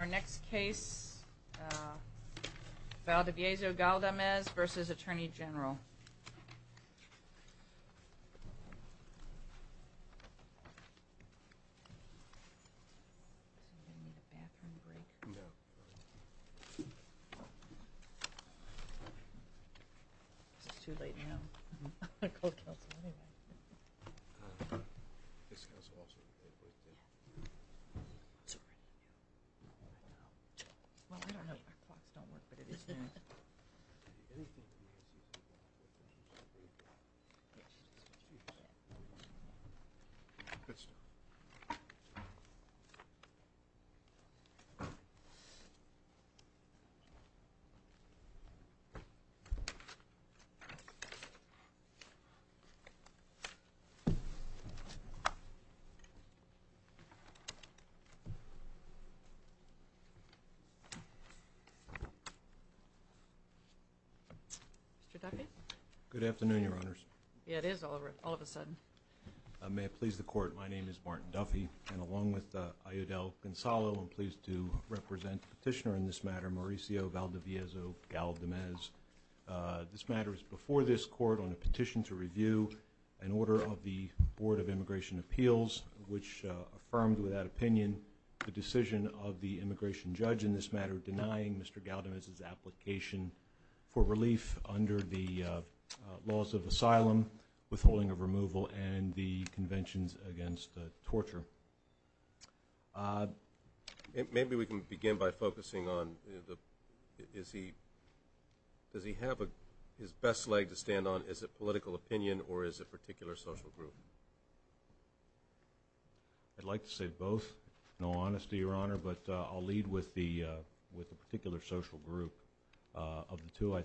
Our next case, Valdiviezo Galdamez versus Attorney General. Valdiviezo Galdamez. Good afternoon, Your Honors. Yeah, it is all of a sudden. May it please the Court, my name is Martin Duffy, and along with Ayodele Gonzalo, I'm pleased to represent the petitioner in this matter, Mauricio Valdiviezo Galdamez. This matter is before this Court on a petition to review an order of the Board of Immigration Appeals, which affirmed without opinion the decision of the immigration judge in this matter, denying Mr. Galdamez's application for relief under the laws of asylum, withholding of removal, and the conventions against torture. Maybe we can begin by focusing on, does he have his best leg to stand on, is it political opinion or is it a particular social group? I'd like to say both, in all honesty, Your Honor, but I'll lead with the particular social group of the two.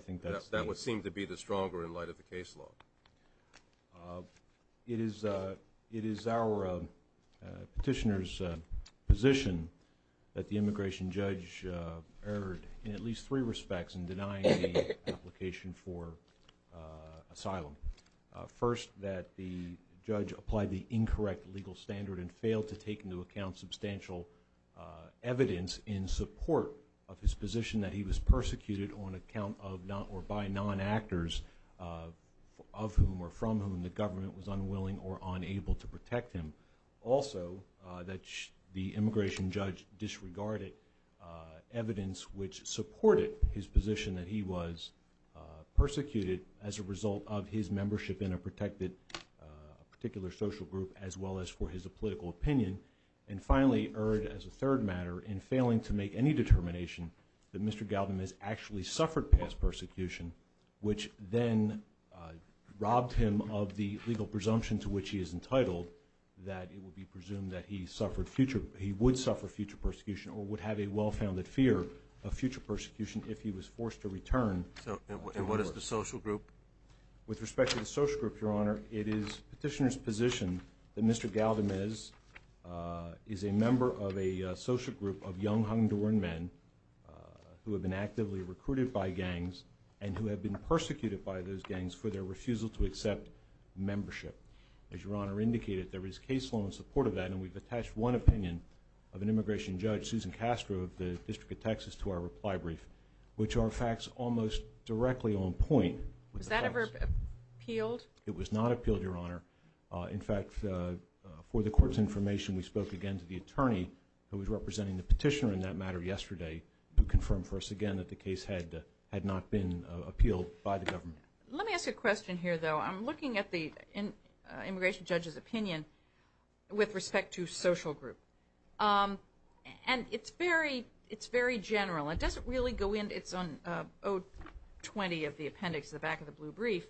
That would seem to be the stronger in light of the case law. It is our petitioner's position that the immigration judge erred in at least three respects in denying the application for asylum. First, that the judge applied the incorrect legal standard and failed to take into account substantial evidence in support of his position that he was persecuted on account of or by non-actors of whom or from whom the government was unwilling or unable to protect him. Also, that the immigration judge disregarded evidence which supported his position that he was persecuted as a result of his membership in a protected particular social group as well as for his political opinion. And finally, erred as a third matter in failing to make any determination that Mr. Galdamez actually suffered past persecution, which then robbed him of the legal presumption to which he is entitled that it would be presumed that he would suffer future persecution or would have a well-founded fear of future persecution if he was forced to return. And what is the social group? With respect to the social group, Your Honor, it is petitioner's position that Mr. Galdamez is a member of a social group of young Honduran men who have been actively recruited by gangs and who have been persecuted by those gangs for their refusal to accept membership. As Your Honor indicated, there is case law in support of that, and we've attached one opinion of an immigration judge, Judge Susan Castro of the District of Texas, to our reply brief, which are facts almost directly on point. Was that ever appealed? It was not appealed, Your Honor. In fact, for the Court's information, we spoke again to the attorney who was representing the petitioner in that matter yesterday who confirmed for us again that the case had not been appealed by the government. Let me ask a question here, though. I'm looking at the immigration judge's opinion with respect to social group, and it's very general. It doesn't really go into its own 020 of the appendix at the back of the blue brief.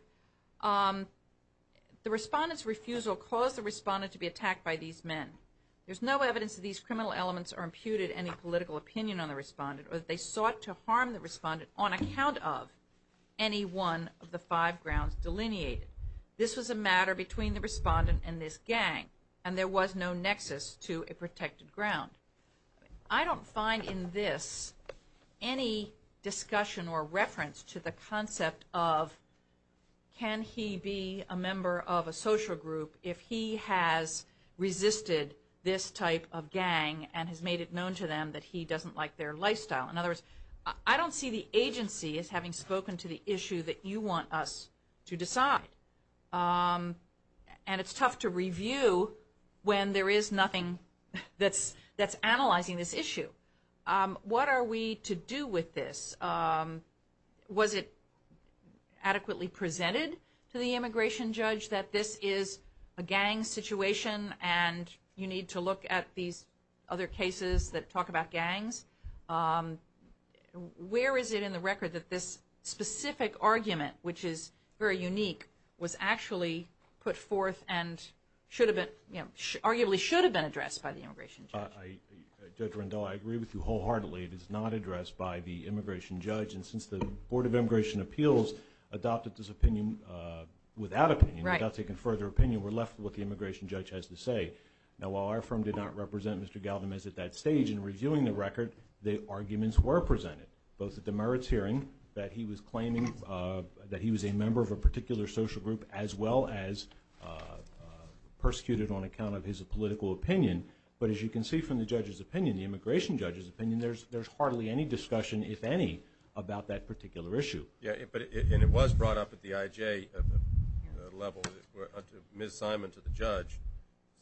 The respondent's refusal caused the respondent to be attacked by these men. There's no evidence that these criminal elements are imputed any political opinion on the respondent or that they sought to harm the respondent on account of any one of the five grounds delineated. This was a matter between the respondent and this gang, and there was no nexus to a protected ground. I don't find in this any discussion or reference to the concept of can he be a member of a social group if he has resisted this type of gang and has made it known to them that he doesn't like their lifestyle. In other words, I don't see the agency as having spoken to the issue that you want us to decide, and it's tough to review when there is nothing that's analyzing this issue. What are we to do with this? Was it adequately presented to the immigration judge that this is a gang situation and you need to look at these other cases that talk about gangs? Where is it in the record that this specific argument, which is very unique, was actually put forth and arguably should have been addressed by the immigration judge? Judge Rendell, I agree with you wholeheartedly. It is not addressed by the immigration judge. And since the Board of Immigration Appeals adopted this opinion without opinion, without taking further opinion, we're left with what the immigration judge has to say. Now, while our firm did not represent Mr. Galvin at that stage in reviewing the record, the arguments were presented, both at the merits hearing that he was claiming that he was a member of a particular social group as well as persecuted on account of his political opinion. But as you can see from the judge's opinion, the immigration judge's opinion, there's hardly any discussion, if any, about that particular issue. And it was brought up at the IJ level. Ms. Simon, to the judge,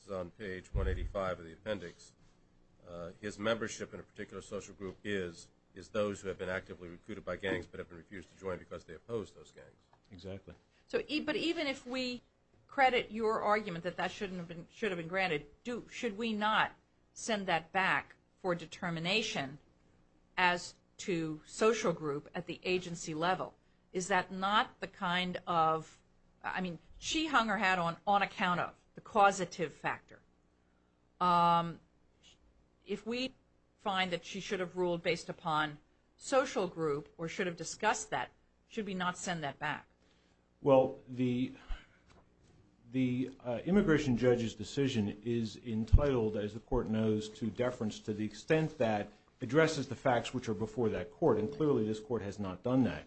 is on page 185 of the appendix. His membership in a particular social group is those who have been actively recruited by gangs but have been refused to join because they oppose those gangs. Exactly. But even if we credit your argument that that should have been granted, should we not send that back for determination as to social group at the agency level? Is that not the kind of, I mean, she hung her hat on on account of the causative factor. If we find that she should have ruled based upon social group or should have discussed that, should we not send that back? Well, the immigration judge's decision is entitled, as the court knows, to deference to the extent that addresses the facts which are before that court, and clearly this court has not done that.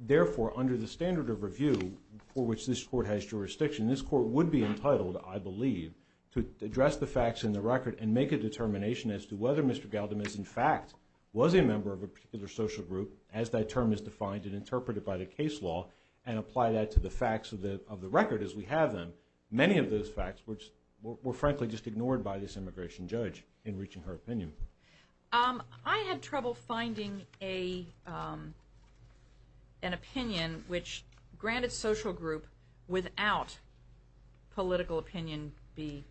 Therefore, under the standard of review for which this court has jurisdiction, this court would be entitled, I believe, to address the facts in the record and make a determination as to whether Mr. Galdimas in fact was a member of a particular social group, as that term is defined and interpreted by the case law, and apply that to the facts of the record as we have them. Many of those facts were frankly just ignored by this immigration judge in reaching her opinion. I had trouble finding an opinion which granted social group without political opinion be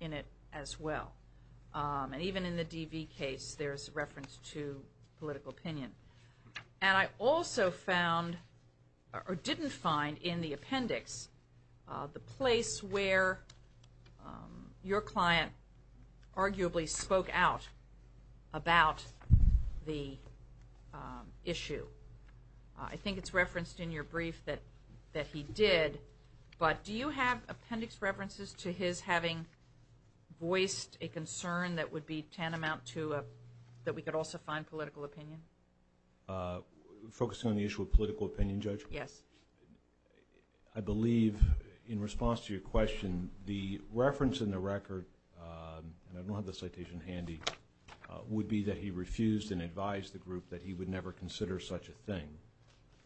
in it as well. And even in the DV case, there's reference to political opinion. And I also found or didn't find in the appendix the place where your client arguably spoke out about the issue. I think it's referenced in your brief that he did, but do you have appendix references to his having voiced a concern that would be tantamount to that we could also find political opinion? Focusing on the issue of political opinion, Judge? Yes. I believe in response to your question, the reference in the record, and I don't have the citation handy, would be that he refused and advised the group that he would never consider such a thing.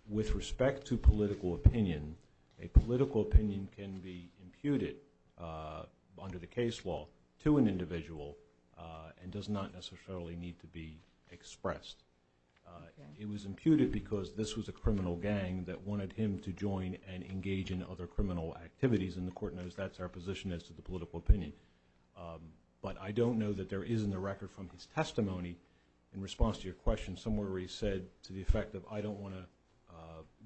With respect to political opinion, a political opinion can be imputed under the case law to an individual and does not necessarily need to be expressed. It was imputed because this was a criminal gang that wanted him to join and engage in other criminal activities, and the court knows that's our position as to the political opinion. But I don't know that there is in the record from his testimony in response to your question somewhere where he said to the effect of, I don't want to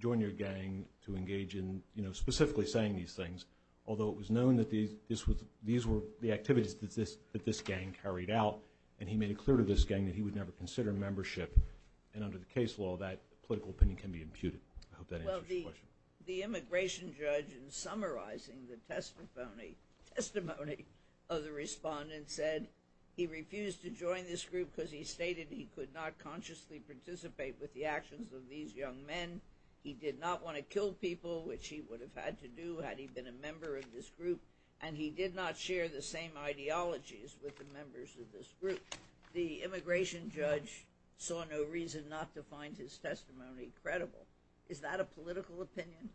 join your gang to engage in specifically saying these things, although it was known that these were the activities that this gang carried out, and he made it clear to this gang that he would never consider membership. And under the case law, that political opinion can be imputed. I hope that answers your question. Well, the immigration judge in summarizing the testimony of the respondent said that he refused to join this group because he stated he could not consciously participate with the actions of these young men, he did not want to kill people, which he would have had to do had he been a member of this group, and he did not share the same ideologies with the members of this group. The immigration judge saw no reason not to find his testimony credible. Is that a political opinion?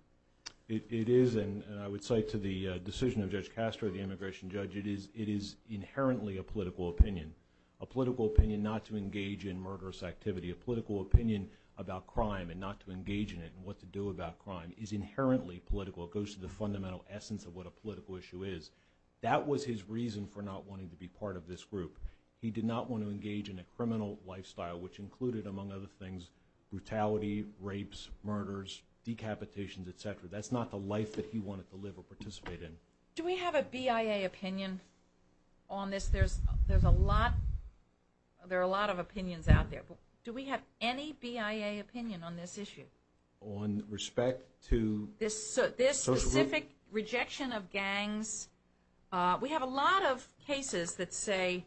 It is, and I would say to the decision of Judge Castro, the immigration judge, it is inherently a political opinion, a political opinion not to engage in murderous activity, a political opinion about crime and not to engage in it and what to do about crime is inherently political. It goes to the fundamental essence of what a political issue is. That was his reason for not wanting to be part of this group. He did not want to engage in a criminal lifestyle, which included, among other things, brutality, rapes, murders, decapitations, et cetera. That's not the life that he wanted to live or participate in. Do we have a BIA opinion on this? There are a lot of opinions out there. Do we have any BIA opinion on this issue? On respect to social groups? This specific rejection of gangs, we have a lot of cases that say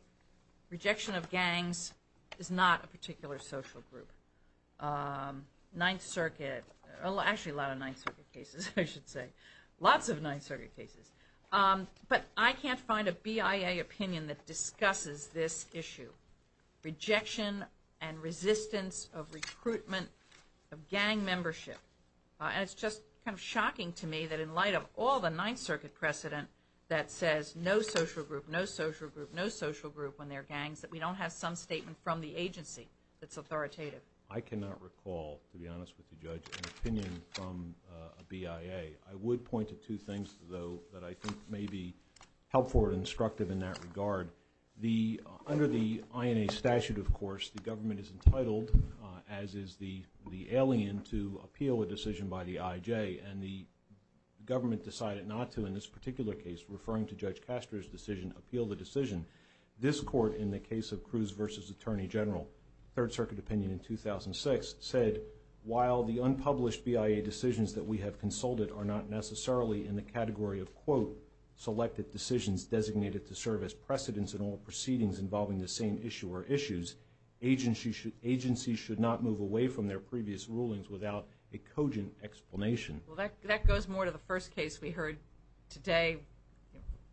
rejection of gangs is not a particular social group. Ninth Circuit, actually a lot of Ninth Circuit cases, I should say. Lots of Ninth Circuit cases. But I can't find a BIA opinion that discusses this issue. Rejection and resistance of recruitment of gang membership. And it's just kind of shocking to me that in light of all the Ninth Circuit precedent that says no social group, no social group, no social group when there are gangs, that we don't have some statement from the agency that's authoritative. I cannot recall, to be honest with you, Judge, an opinion from a BIA. I would point to two things, though, that I think may be helpful and instructive in that regard. Under the INA statute, of course, the government is entitled, as is the alien, to appeal a decision by the IJ. And the government decided not to, in this particular case, referring to Judge Castro's decision, appeal the decision. This court, in the case of Cruz v. Attorney General, Third Circuit opinion in 2006, said, while the unpublished BIA decisions that we have consulted are not necessarily in the category of, quote, selected decisions designated to serve as precedents in all proceedings involving the same issue or issues, agencies should not move away from their previous rulings without a cogent explanation. Well, that goes more to the first case we heard today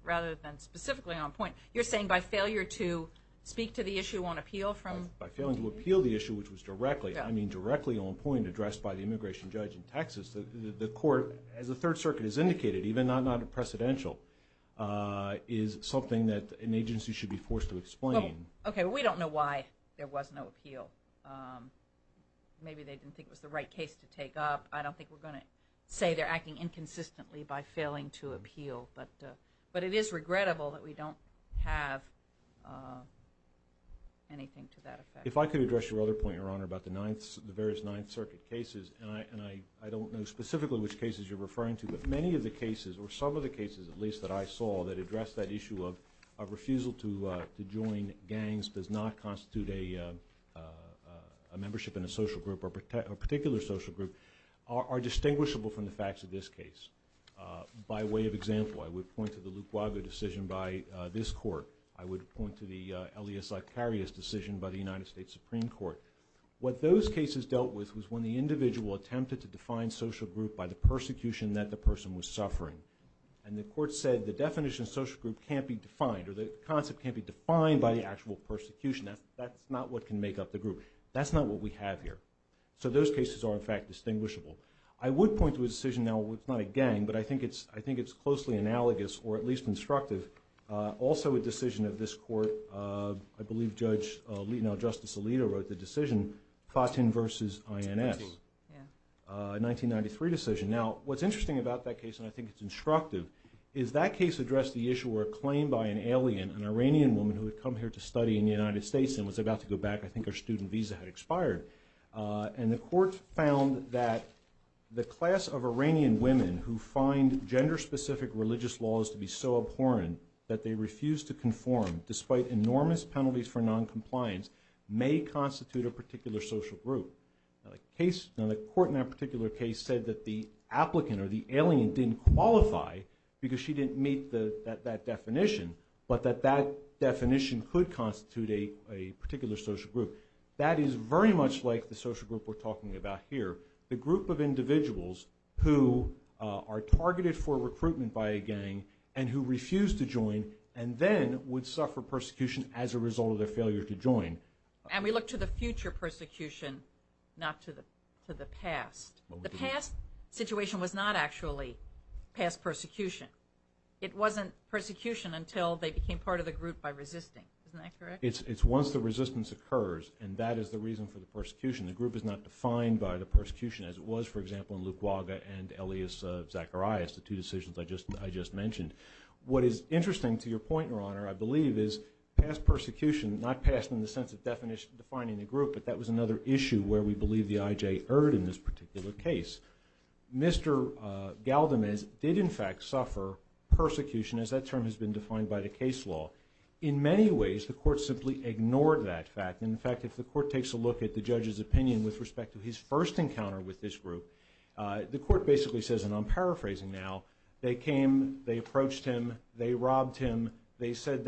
rather than specifically on point. You're saying by failure to speak to the issue on appeal from the agency? By failing to appeal the issue, which was directly, I mean directly on point, addressed by the immigration judge in Texas, the court, as the Third Circuit has indicated, even though not in precedential, is something that an agency should be forced to explain. Okay, well, we don't know why there was no appeal. Maybe they didn't think it was the right case to take up. I don't think we're going to say they're acting inconsistently by failing to appeal. But it is regrettable that we don't have anything to that effect. If I could address your other point, Your Honor, about the various Ninth Circuit cases, and I don't know specifically which cases you're referring to, but many of the cases, or some of the cases at least that I saw, that addressed that issue of refusal to join gangs does not constitute a membership in a social group or a particular social group are distinguishable from the facts of this case. By way of example, I would point to the Lukwaga decision by this court. I would point to the Elia Zakaria's decision by the United States Supreme Court. What those cases dealt with was when the individual attempted to define social group by the persecution that the person was suffering. And the court said the definition of social group can't be defined, or the concept can't be defined by the actual persecution. That's not what can make up the group. That's not what we have here. So those cases are, in fact, distinguishable. I would point to a decision now, it's not a gang, but I think it's closely analogous, or at least instructive, also a decision of this court. I believe Justice Alito wrote the decision, Fatin v. INS, a 1993 decision. Now, what's interesting about that case, and I think it's instructive, is that case addressed the issue where a claim by an alien, an Iranian woman, who had come here to study in the United States and was about to go back. I think her student visa had expired. And the court found that the class of Iranian women who find gender-specific religious laws to be so abhorrent that they refuse to conform, despite enormous penalties for noncompliance, may constitute a particular social group. Now, the court in that particular case said that the applicant, or the alien, didn't qualify because she didn't meet that definition, but that that definition could constitute a particular social group. That is very much like the social group we're talking about here, the group of individuals who are targeted for recruitment by a gang and who refuse to join and then would suffer persecution as a result of their failure to join. And we look to the future persecution, not to the past. The past situation was not actually past persecution. It wasn't persecution until they became part of the group by resisting. Isn't that correct? It's once the resistance occurs, and that is the reason for the persecution. The group is not defined by the persecution as it was, for example, in Luke Waga and Elias Zacharias, the two decisions I just mentioned. What is interesting to your point, Your Honor, I believe, is past persecution, not past in the sense of defining the group, but that was another issue where we believe the IJ erred in this particular case. Mr. Galdamez did, in fact, suffer persecution, as that term has been defined by the case law. In many ways, the court simply ignored that fact. In fact, if the court takes a look at the judge's opinion with respect to his first encounter with this group, the court basically says, and I'm paraphrasing now, they came, they approached him, they robbed him, they said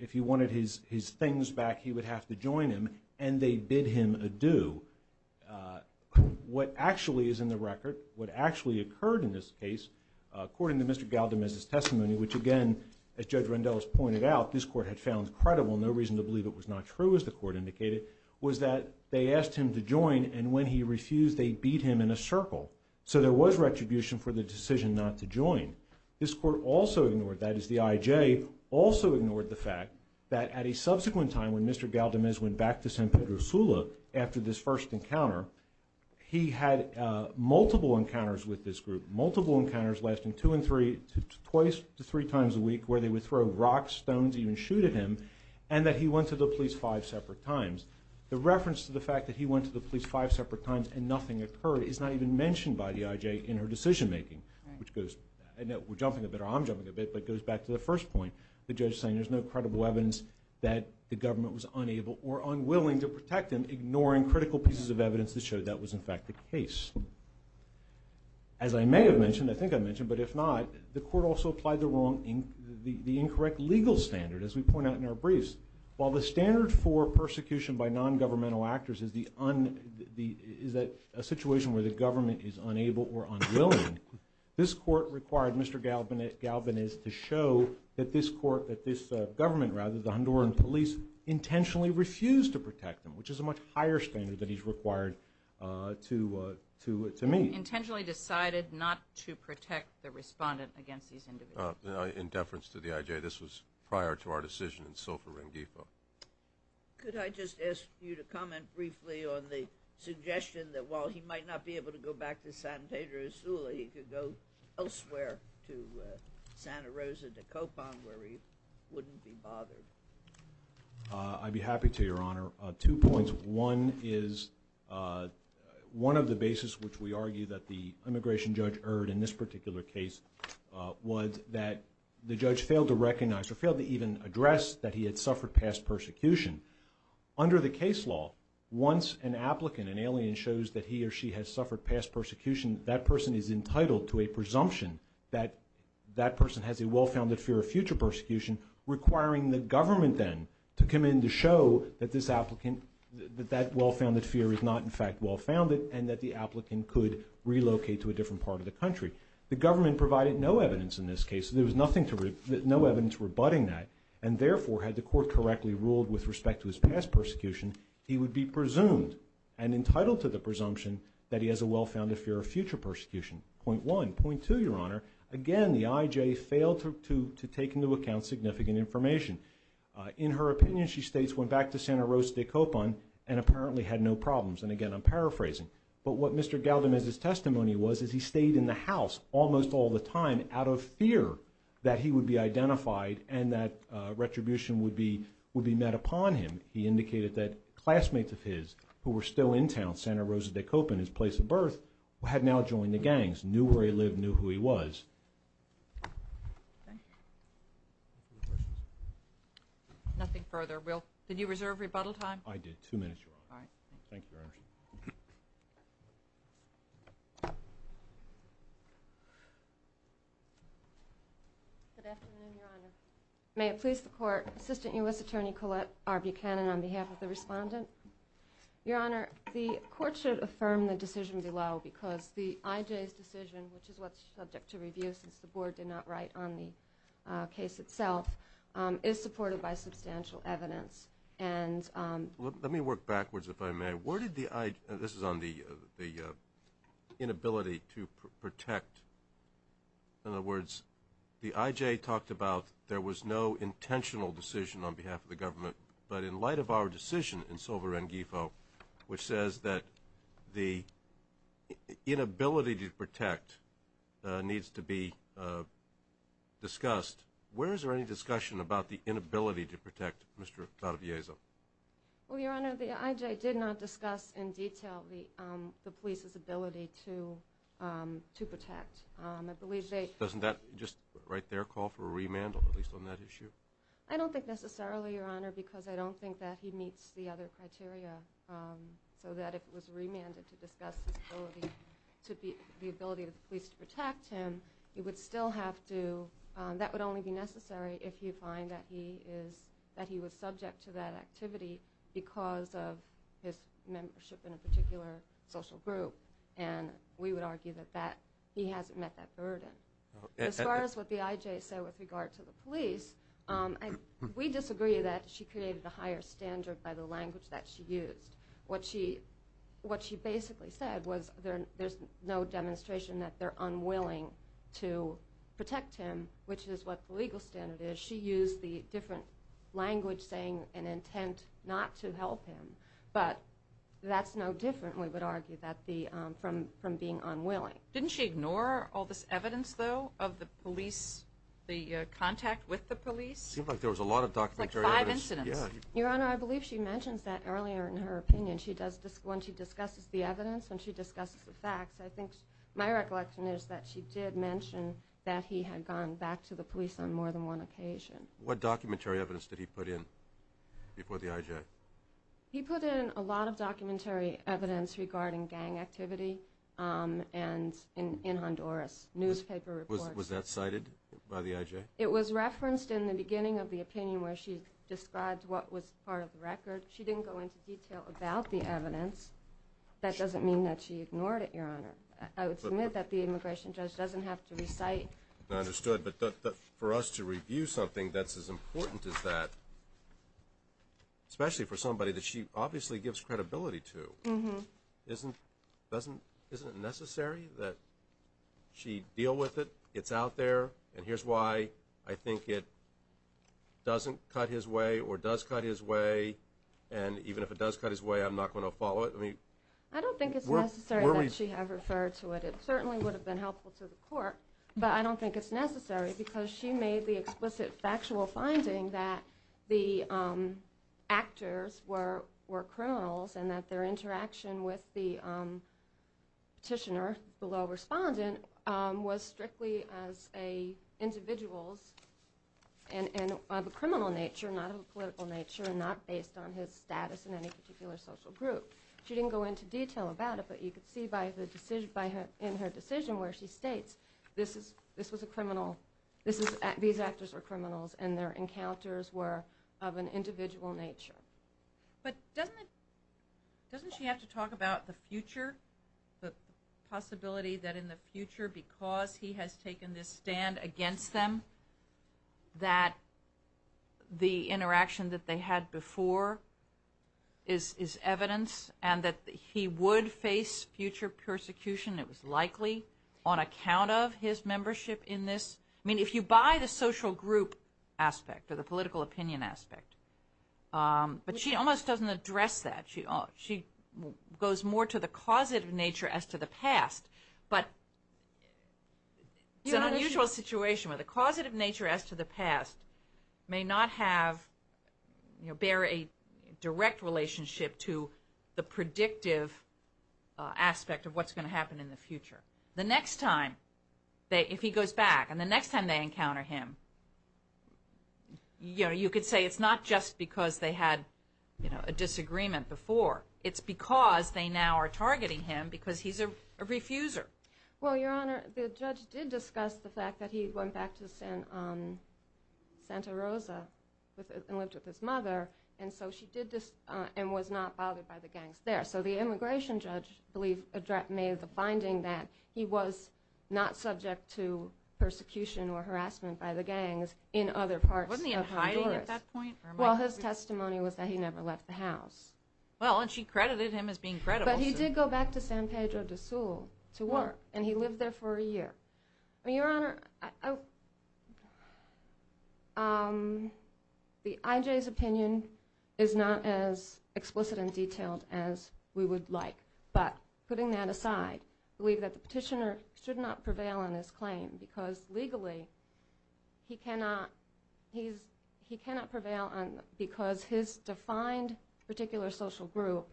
if he wanted his things back, he would have to join him, and they bid him adieu. What actually is in the record, what actually occurred in this case, according to Mr. Galdamez's testimony, which, again, as Judge Randell has pointed out, this court had found credible, no reason to believe it was not true, as the court indicated, was that they asked him to join, and when he refused, they beat him in a circle. So there was retribution for the decision not to join. This court also ignored, that is, the IJ also ignored the fact that at a subsequent time when Mr. Galdamez went back to San Pedro Sula after this first encounter, he had multiple encounters with this group, multiple encounters lasting two and three, twice to three times a week, where they would throw rocks, stones, even shoot at him, and that he went to the police five separate times. The reference to the fact that he went to the police five separate times and nothing occurred is not even mentioned by the IJ in her decision making, which goes, we're jumping a bit, or I'm jumping a bit, but it goes back to the first point, the judge saying there's no credible evidence that the government was unable or unwilling to protect him, ignoring critical pieces of evidence that showed that was in fact the case. As I may have mentioned, I think I mentioned, but if not, the court also applied the incorrect legal standard, as we point out in our briefs. While the standard for persecution by nongovernmental actors is a situation where the government is unable or unwilling, this court required Mr. Galdamez to show that this government, rather, the Honduran police, intentionally refused to protect him, which is a much higher standard than he's required to meet. Intentionally decided not to protect the respondent against these individuals. In deference to the IJ, this was prior to our decision in Silver Ring Depot. Could I just ask you to comment briefly on the suggestion that while he might not be able to go back to San Pedro Sula, he could go elsewhere, to Santa Rosa, to Copan, where he wouldn't be bothered? I'd be happy to, Your Honor. Two points. One is one of the bases which we argue that the immigration judge erred in this particular case was that the judge failed to recognize or failed to even address that he had suffered past persecution. Under the case law, once an applicant, an alien, shows that he or she has suffered past persecution, that person is entitled to a presumption that that person has a well-founded fear of future persecution requiring the government then to come in to show that this applicant, that that well-founded fear is not in fact well-founded and that the applicant could relocate to a different part of the country. The government provided no evidence in this case. There was no evidence rebutting that. And therefore, had the court correctly ruled with respect to his past persecution, he would be presumed and entitled to the presumption that he has a well-founded fear of future persecution. Point one. Point two, Your Honor. Again, the IJ failed to take into account significant information. In her opinion, she states, went back to Santa Rosa de Copan and apparently had no problems. And again, I'm paraphrasing. But what Mr. Galdamez's testimony was is he stayed in the house almost all the time out of fear that he would be identified and that retribution would be met upon him. He indicated that classmates of his who were still in town, Santa Rosa de Copan, his place of birth, had now joined the gangs, knew where he lived, knew who he was. Nothing further. Will, did you reserve rebuttal time? I did. Two minutes, Your Honor. All right. Thank you, Your Honor. Good afternoon, Your Honor. May it please the court, Assistant U.S. Attorney Colette R. Buchanan on behalf of the respondent. Your Honor, the court should affirm the decision below because the IJ's decision, which is what's subject to review since the board did not write on the case itself, is supported by substantial evidence. Let me work backwards, if I may. This is on the inability to protect. In other words, the IJ talked about there was no intentional decision on behalf of the government. But in light of our decision in Sovereign GIFO, which says that the inability to protect needs to be discussed, where is there any discussion about the inability to protect Mr. Tarabiezo? Well, Your Honor, the IJ did not discuss in detail the police's ability to protect. I believe they – Doesn't that just right there call for a remand, at least on that issue? I don't think necessarily, Your Honor, because I don't think that he meets the other criteria so that if it was remanded to discuss his ability to be – the ability of the police to protect him, he would still have to – that would only be necessary if you find that he is – that he was subject to that activity because of his membership in a particular social group. And we would argue that that – he hasn't met that burden. As far as what the IJ said with regard to the police, we disagree that she created a higher standard by the language that she used. What she basically said was there's no demonstration that they're unwilling to protect him, which is what the legal standard is. She used the different language saying an intent not to help him, but that's no different, we would argue, that the – from being unwilling. Didn't she ignore all this evidence, though, of the police – the contact with the police? It seemed like there was a lot of documentary evidence. Like five incidents. Your Honor, I believe she mentions that earlier in her opinion. She does – when she discusses the evidence, when she discusses the facts, I think my recollection is that she did mention that he had gone back to the police on more than one occasion. What documentary evidence did he put in before the IJ? He put in a lot of documentary evidence regarding gang activity and in Honduras, newspaper reports. Was that cited by the IJ? It was referenced in the beginning of the opinion where she described what was part of the record. She didn't go into detail about the evidence. That doesn't mean that she ignored it, Your Honor. I would submit that the immigration judge doesn't have to recite. But for us to review something that's as important as that, especially for somebody that she obviously gives credibility to, isn't it necessary that she deal with it, it's out there, and here's why I think it doesn't cut his way or does cut his way, and even if it does cut his way, I'm not going to follow it? I don't think it's necessary that she have referred to it. It certainly would have been helpful to the court, but I don't think it's necessary because she made the explicit factual finding that the actors were criminals and that their interaction with the petitioner, the law respondent, was strictly as individuals of a criminal nature, not of a political nature, and not based on his status in any particular social group. She didn't go into detail about it, but you could see in her decision where she states these actors are criminals and their encounters were of an individual nature. But doesn't she have to talk about the future, the possibility that in the future because he has taken this stand against them that the interaction that they had before is evidence and that he would face future persecution, it was likely on account of his membership in this? I mean, if you buy the social group aspect or the political opinion aspect, but she almost doesn't address that. She goes more to the causative nature as to the past, but it's an unusual situation where the causative nature as to the past may not bear a direct relationship to the predictive aspect of what's going to happen in the future. The next time, if he goes back, and the next time they encounter him, you could say it's not just because they had a disagreement before. It's because they now are targeting him because he's a refuser. Well, Your Honor, the judge did discuss the fact that he went back to Santa Rosa and lived with his mother, and was not bothered by the gangs there. So the immigration judge made the finding that he was not subject to persecution or harassment by the gangs in other parts of Honduras. Wasn't he in hiding at that point? Well, his testimony was that he never left the house. Well, and she credited him as being credible. But he did go back to San Pedro de Sul to work, and he lived there for a year. Your Honor, IJ's opinion is not as explicit and detailed as we would like, but putting that aside, I believe that the petitioner should not prevail on his claim because legally he cannot prevail because his defined particular social group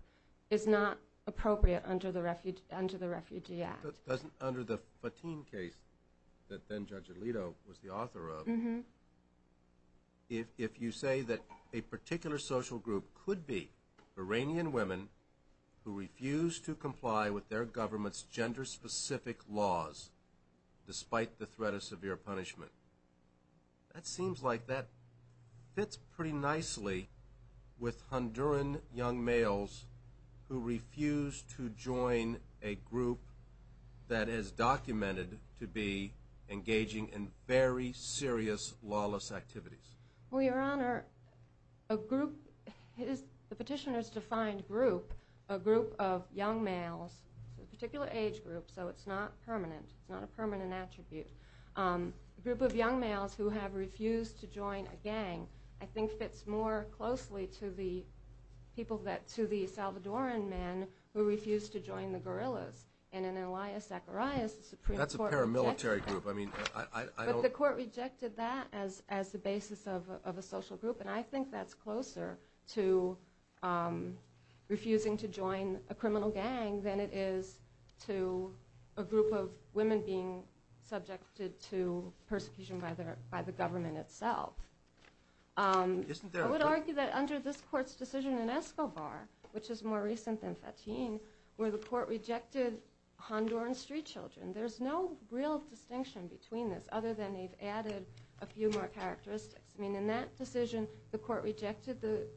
is not appropriate under the Refugee Act. Under the Fatin case that then Judge Alito was the author of, if you say that a particular social group could be Iranian women who refuse to comply with their government's gender-specific laws despite the threat of severe punishment, that seems like that fits pretty nicely with Honduran young males who refuse to join a group that is documented to be engaging in very serious lawless activities. Well, Your Honor, the petitioner's defined group, a group of young males, a particular age group, so it's not permanent. It's not a permanent attribute. A group of young males who have refused to join a gang, I think fits more closely to the Salvadoran men who refused to join the guerrillas. And in Elias Zacharias, the Supreme Court rejected that. That's a paramilitary group. But the court rejected that as the basis of a social group, and I think that's closer to refusing to join a criminal gang than it is to a group of women being subjected to persecution by the government itself. I would argue that under this court's decision in Escobar, which is more recent than Fatin, where the court rejected Honduran street children, there's no real distinction between this other than they've added a few more characteristics. I mean, in that decision, the court rejected the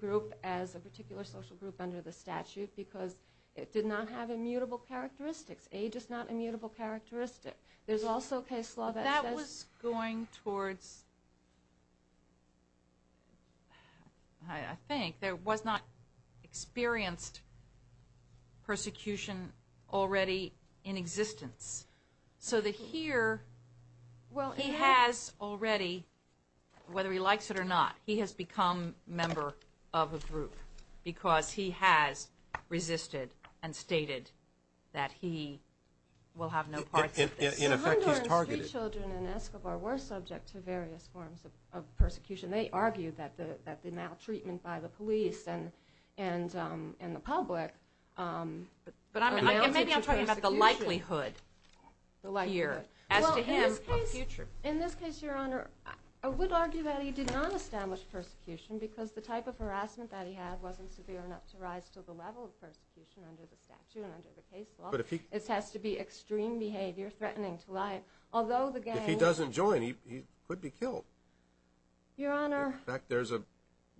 group as a particular social group under the statute because it did not have immutable characteristics. Age is not an immutable characteristic. There's also a case law that says... That was going towards, I think, there was not experienced persecution already in existence. So that here, he has already, whether he likes it or not, he has become a member of a group because he has resisted and stated that he will have no part in this. So Honduran street children in Escobar were subject to various forms of persecution. They argued that the maltreatment by the police and the public... Maybe I'm talking about the likelihood here. As to him, a future. In this case, Your Honor, I would argue that he did not establish persecution because the type of harassment that he had wasn't severe enough to rise to the level of persecution under the statute and under the case law. This has to be extreme behavior threatening to life, although the gang... If he doesn't join, he could be killed. Your Honor... In fact, there's a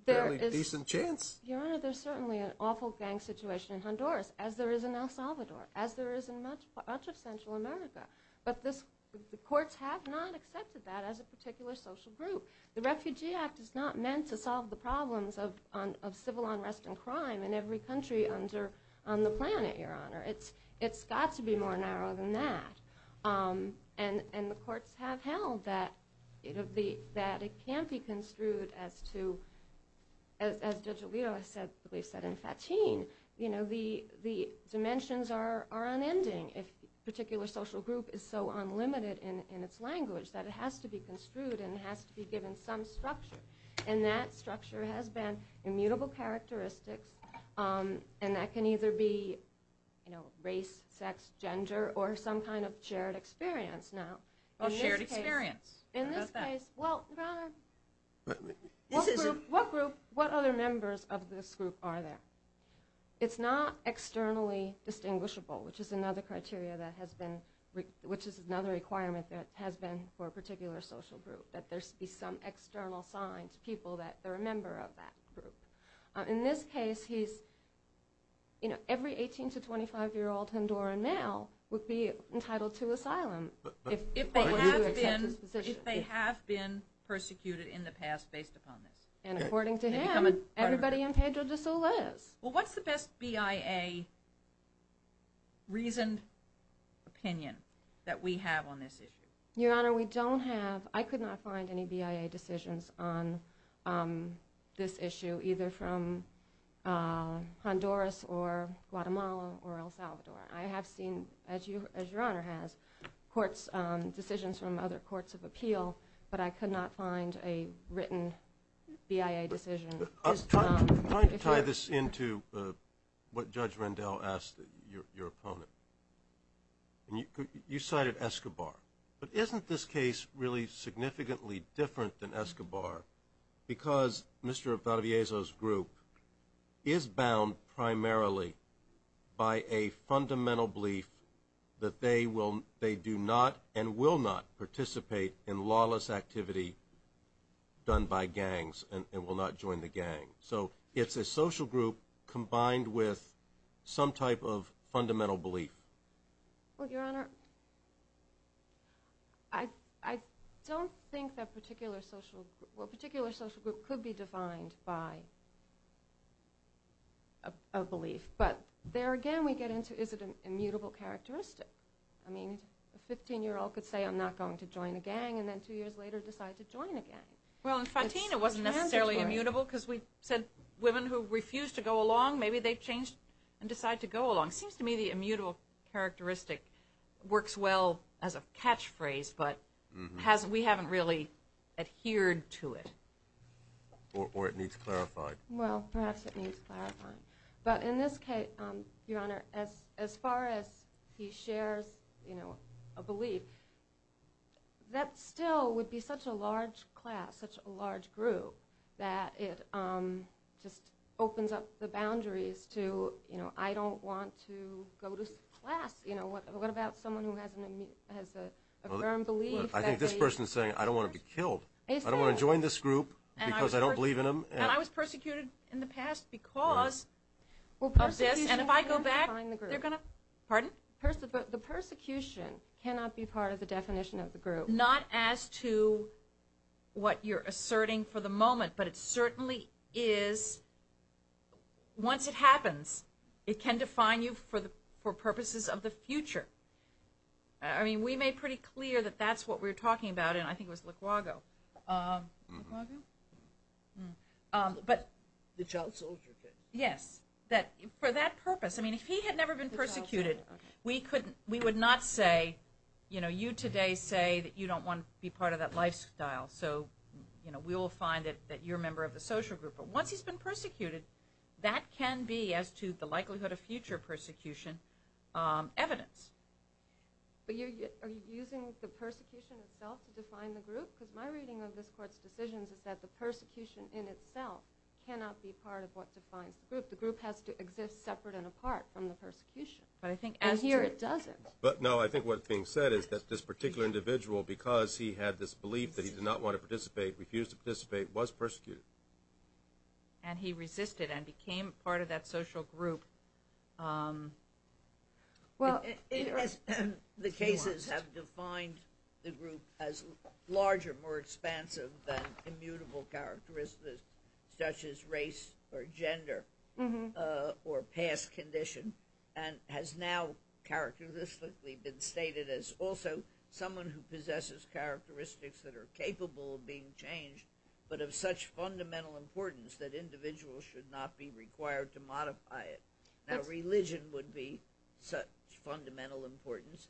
fairly decent chance. Your Honor, there's certainly an awful gang situation in Honduras, as there is in El Salvador, as there is in much of Central America. But the courts have not accepted that as a particular social group. The Refugee Act is not meant to solve the problems of civil unrest and crime in every country on the planet, Your Honor. It's got to be more narrow than that. And the courts have held that it can't be construed as to... As Judge Alito has said, at least in Fatin, the dimensions are unending. If a particular social group is so unlimited in its language, that it has to be construed and it has to be given some structure. And that structure has been immutable characteristics. And that can either be race, sex, gender, or some kind of shared experience now. A shared experience. How about that? In this case, well, Your Honor... What group, what other members of this group are there? It's not externally distinguishable, which is another criteria that has been... Which is another requirement that has been for a particular social group, that there be some external signs, people that are a member of that group. In this case, he's... Every 18 to 25-year-old Honduran male would be entitled to asylum. If they have been persecuted in the past based upon this. And according to him, everybody in Pedro de Soula is. Well, what's the best BIA reasoned opinion that we have on this issue? Your Honor, we don't have... It's either from Honduras or Guatemala or El Salvador. I have seen, as Your Honor has, decisions from other courts of appeal, but I could not find a written BIA decision. I'm trying to tie this into what Judge Rendell asked your opponent. You cited Escobar. But isn't this case really significantly different than Escobar because Mr. Valdez's group is bound primarily by a fundamental belief that they do not and will not participate in lawless activity done by gangs and will not join the gang. So it's a social group combined with some type of fundamental belief. Well, Your Honor, I don't think that particular social group... Well, a particular social group could be defined by a belief, but there again we get into is it an immutable characteristic. I mean, a 15-year-old could say, I'm not going to join a gang, and then two years later decide to join a gang. Well, in Fantin it wasn't necessarily immutable because we said women who refuse to go along, maybe they've changed and decide to go along. It seems to me the immutable characteristic works well as a catchphrase, but we haven't really adhered to it. Or it needs clarifying. Well, perhaps it needs clarifying. But in this case, Your Honor, as far as he shares a belief, that still would be such a large class, such a large group, that it just opens up the boundaries to I don't want to go to class. What about someone who has a firm belief that they... I think this person is saying, I don't want to be killed. I don't want to join this group because I don't believe in them. And I was persecuted in the past because of this, and if I go back, they're going to... Pardon? The persecution cannot be part of the definition of the group. Not as to what you're asserting for the moment, but it certainly is, once it happens, it can define you for purposes of the future. I mean, we made pretty clear that that's what we were talking about, and I think it was Likwago. The child soldier. Yes. For that purpose. I mean, if he had never been persecuted, we would not say, you know, you today say that you don't want to be part of that lifestyle, so we will find that you're a member of the social group. But once he's been persecuted, that can be, as to the likelihood of future persecution, evidence. But are you using the persecution itself to define the group? Because my reading of this Court's decisions is that the persecution in itself cannot be part of what defines the group. The group has to exist separate and apart from the persecution. But I think as to... But here it doesn't. No, I think what's being said is that this particular individual, because he had this belief that he did not want to participate, refused to participate, was persecuted. And he resisted and became part of that social group. The cases have defined the group as larger, more expansive than immutable characteristics, such as race or gender or past condition, and has now characteristically been stated as also someone who possesses characteristics that are capable of being changed, but of such fundamental importance that individuals should not be required to modify it. Now, religion would be such fundamental importance.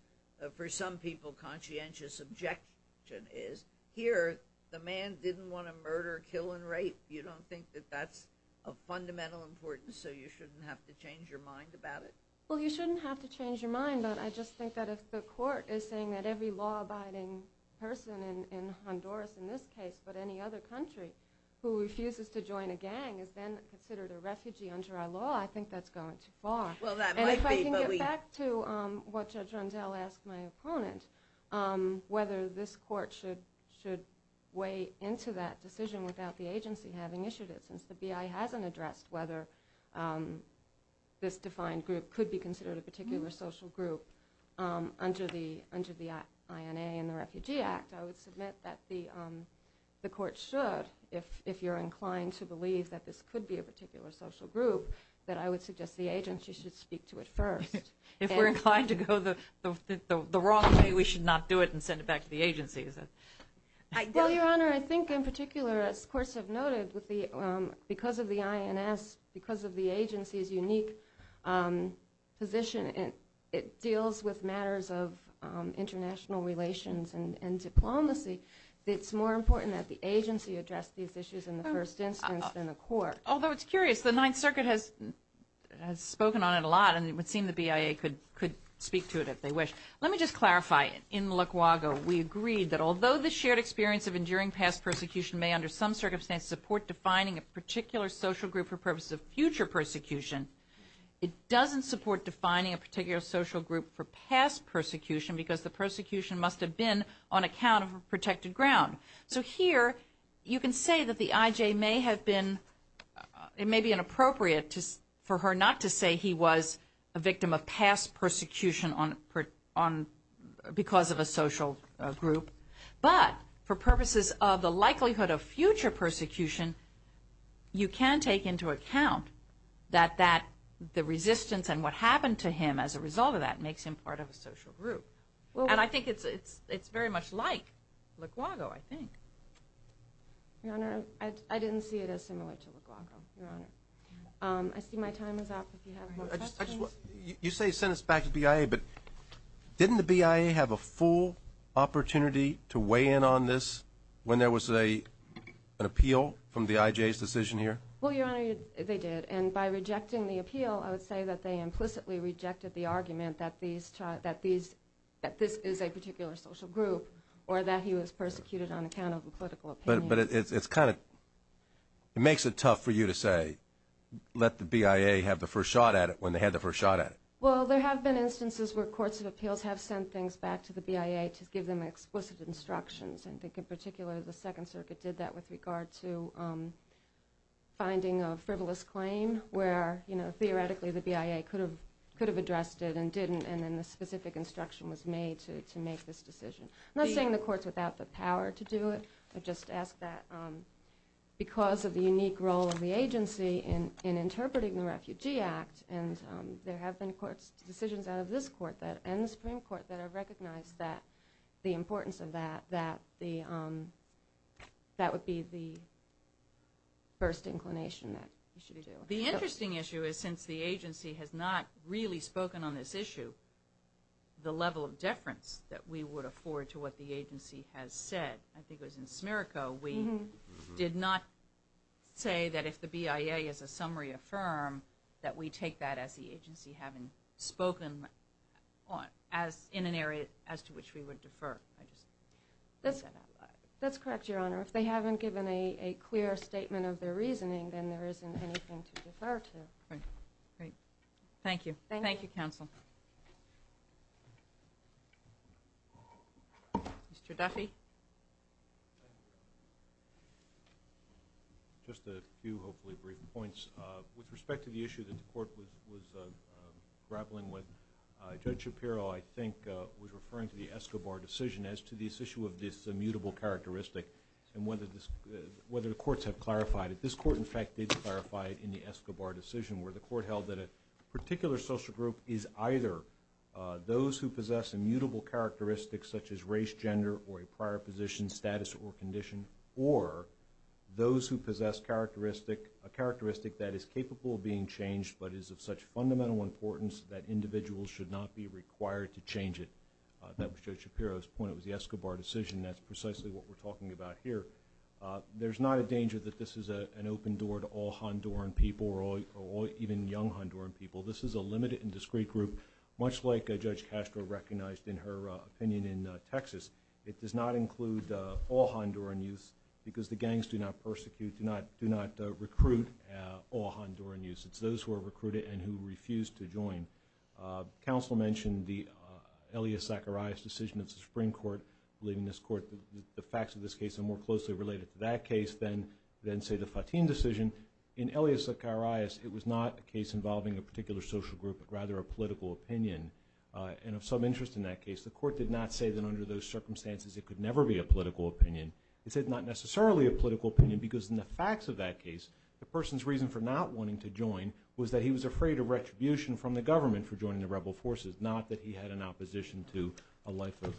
For some people, conscientious objection is, here, the man didn't want to murder, kill, and rape. You don't think that that's of fundamental importance, so you shouldn't have to change your mind about it? Well, you shouldn't have to change your mind, but I just think that if the Court is saying that every law-abiding person in Honduras, in this case, but any other country who refuses to join a gang is then considered a refugee under our law, I think that's going too far. And if I can get back to what Judge Rondell asked my opponent, whether this Court should weigh into that decision without the agency having issued it, since the BI hasn't addressed whether this defined group could be considered a particular social group under the INA and the Refugee Act, I would submit that the Court should, if you're inclined to believe that this could be a particular social group, that I would suggest the agency should speak to it first. If we're inclined to go the wrong way, we should not do it and send it back to the agency? Well, Your Honor, I think in particular, as courts have noted, because of the INS, because of the agency's unique position, it deals with matters of international relations and diplomacy, it's more important that the agency address these issues in the first instance than the Court. Although it's curious, the Ninth Circuit has spoken on it a lot, and it would seem the BIA could speak to it if they wish. Let me just clarify. In Malacuago, we agreed that although the shared experience of enduring past persecution may, under some circumstances, support defining a particular social group for purposes of future persecution, it doesn't support defining a particular social group for past persecution because the persecution must have been on account of a protected ground. So here, you can say that the IJ may have been, it may be inappropriate for her not to say he was a victim of past persecution because of a social group, but for purposes of the likelihood of future persecution, you can take into account that the resistance and what happened to him as a result of that makes him part of a social group. And I think it's very much like Licuago, I think. Your Honor, I didn't see it as similar to Licuago, Your Honor. I see my time is up if you have more questions. You say it's sentenced back to BIA, but didn't the BIA have a full opportunity to weigh in on this when there was an appeal from the IJ's decision here? Well, Your Honor, they did. And by rejecting the appeal, I would say that they implicitly rejected the argument that this is a particular social group or that he was persecuted on account of a political opinion. But it's kind of, it makes it tough for you to say let the BIA have the first shot at it when they had the first shot at it. Well, there have been instances where courts of appeals have sent things back to the BIA to give them explicit instructions. And I think in particular the Second Circuit did that with regard to finding a frivolous claim where, you know, theoretically the BIA could have addressed it and didn't and then the specific instruction was made to make this decision. I'm not saying the court's without the power to do it. I just ask that because of the unique role of the agency in interpreting the Refugee Act and there have been decisions out of this court and the Supreme Court that have recognized the importance of that, that would be the first inclination that you should be doing. The interesting issue is since the agency has not really spoken on this issue, the level of deference that we would afford to what the agency has said, I think it was in Smirko, we did not say that if the BIA is a summary of firm that we take that as the agency having spoken in an area as to which we would defer. That's correct, Your Honor. If they haven't given a clear statement of their reasoning, then there isn't anything to defer to. Great. Thank you. Thank you, counsel. Mr. Duffy. Just a few hopefully brief points. With respect to the issue that the court was grappling with, Judge Shapiro, I think, was referring to the Escobar decision as to this issue of this immutable characteristic and whether the courts have clarified it. This court, in fact, did clarify it in the Escobar decision where the court held that a particular social group is either those who possess immutable characteristics such as race, gender, or a prior position, status, or condition, or those who possess a characteristic that is capable of being changed but is of such fundamental importance that individuals should not be required to change it. That was Judge Shapiro's point. It was the Escobar decision. That's precisely what we're talking about here. There's not a danger that this is an open door to all Honduran people or even young Honduran people. This is a limited and discrete group, much like Judge Castro recognized in her opinion in Texas. It does not include all Honduran youths because the gangs do not persecute, do not recruit all Honduran youths. It's those who are recruited and who refuse to join. Counsel mentioned the Elias Zacharias decision of the Supreme Court, believing this court, the facts of this case are more closely related to that case than, say, the Fatim decision. In Elias Zacharias, it was not a case involving a particular social group but rather a political opinion, and of some interest in that case. The court did not say that under those circumstances it could never be a political opinion. It said not necessarily a political opinion because in the facts of that case, the person's reason for not wanting to join was that he was afraid of retribution from the government for joining the rebel forces, not that he had an opposition to a life of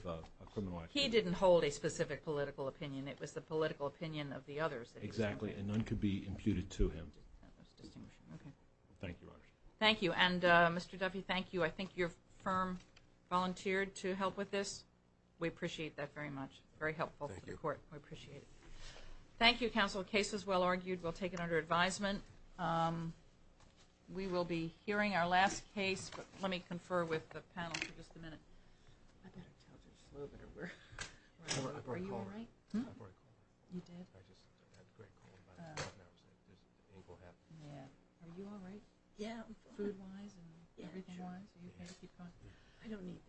criminal activity. He didn't hold a specific political opinion. It was the political opinion of the others that he supported. Exactly, and none could be imputed to him. That was distinguishing. Okay. Thank you, Your Honor. Thank you. And, Mr. Duffy, thank you. I think your firm volunteered to help with this. We appreciate that very much. Very helpful to the court. Thank you. We appreciate it. Thank you, Counsel. The case is well argued. We'll take it under advisement. We will be hearing our last case, but let me confer with the panel for just a minute. Yeah. Food-wise and everything-wise? Yeah. Are you okay to keep talking? I don't need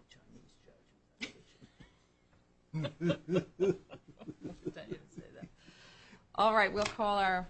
the Chinese judge. All right. We'll call our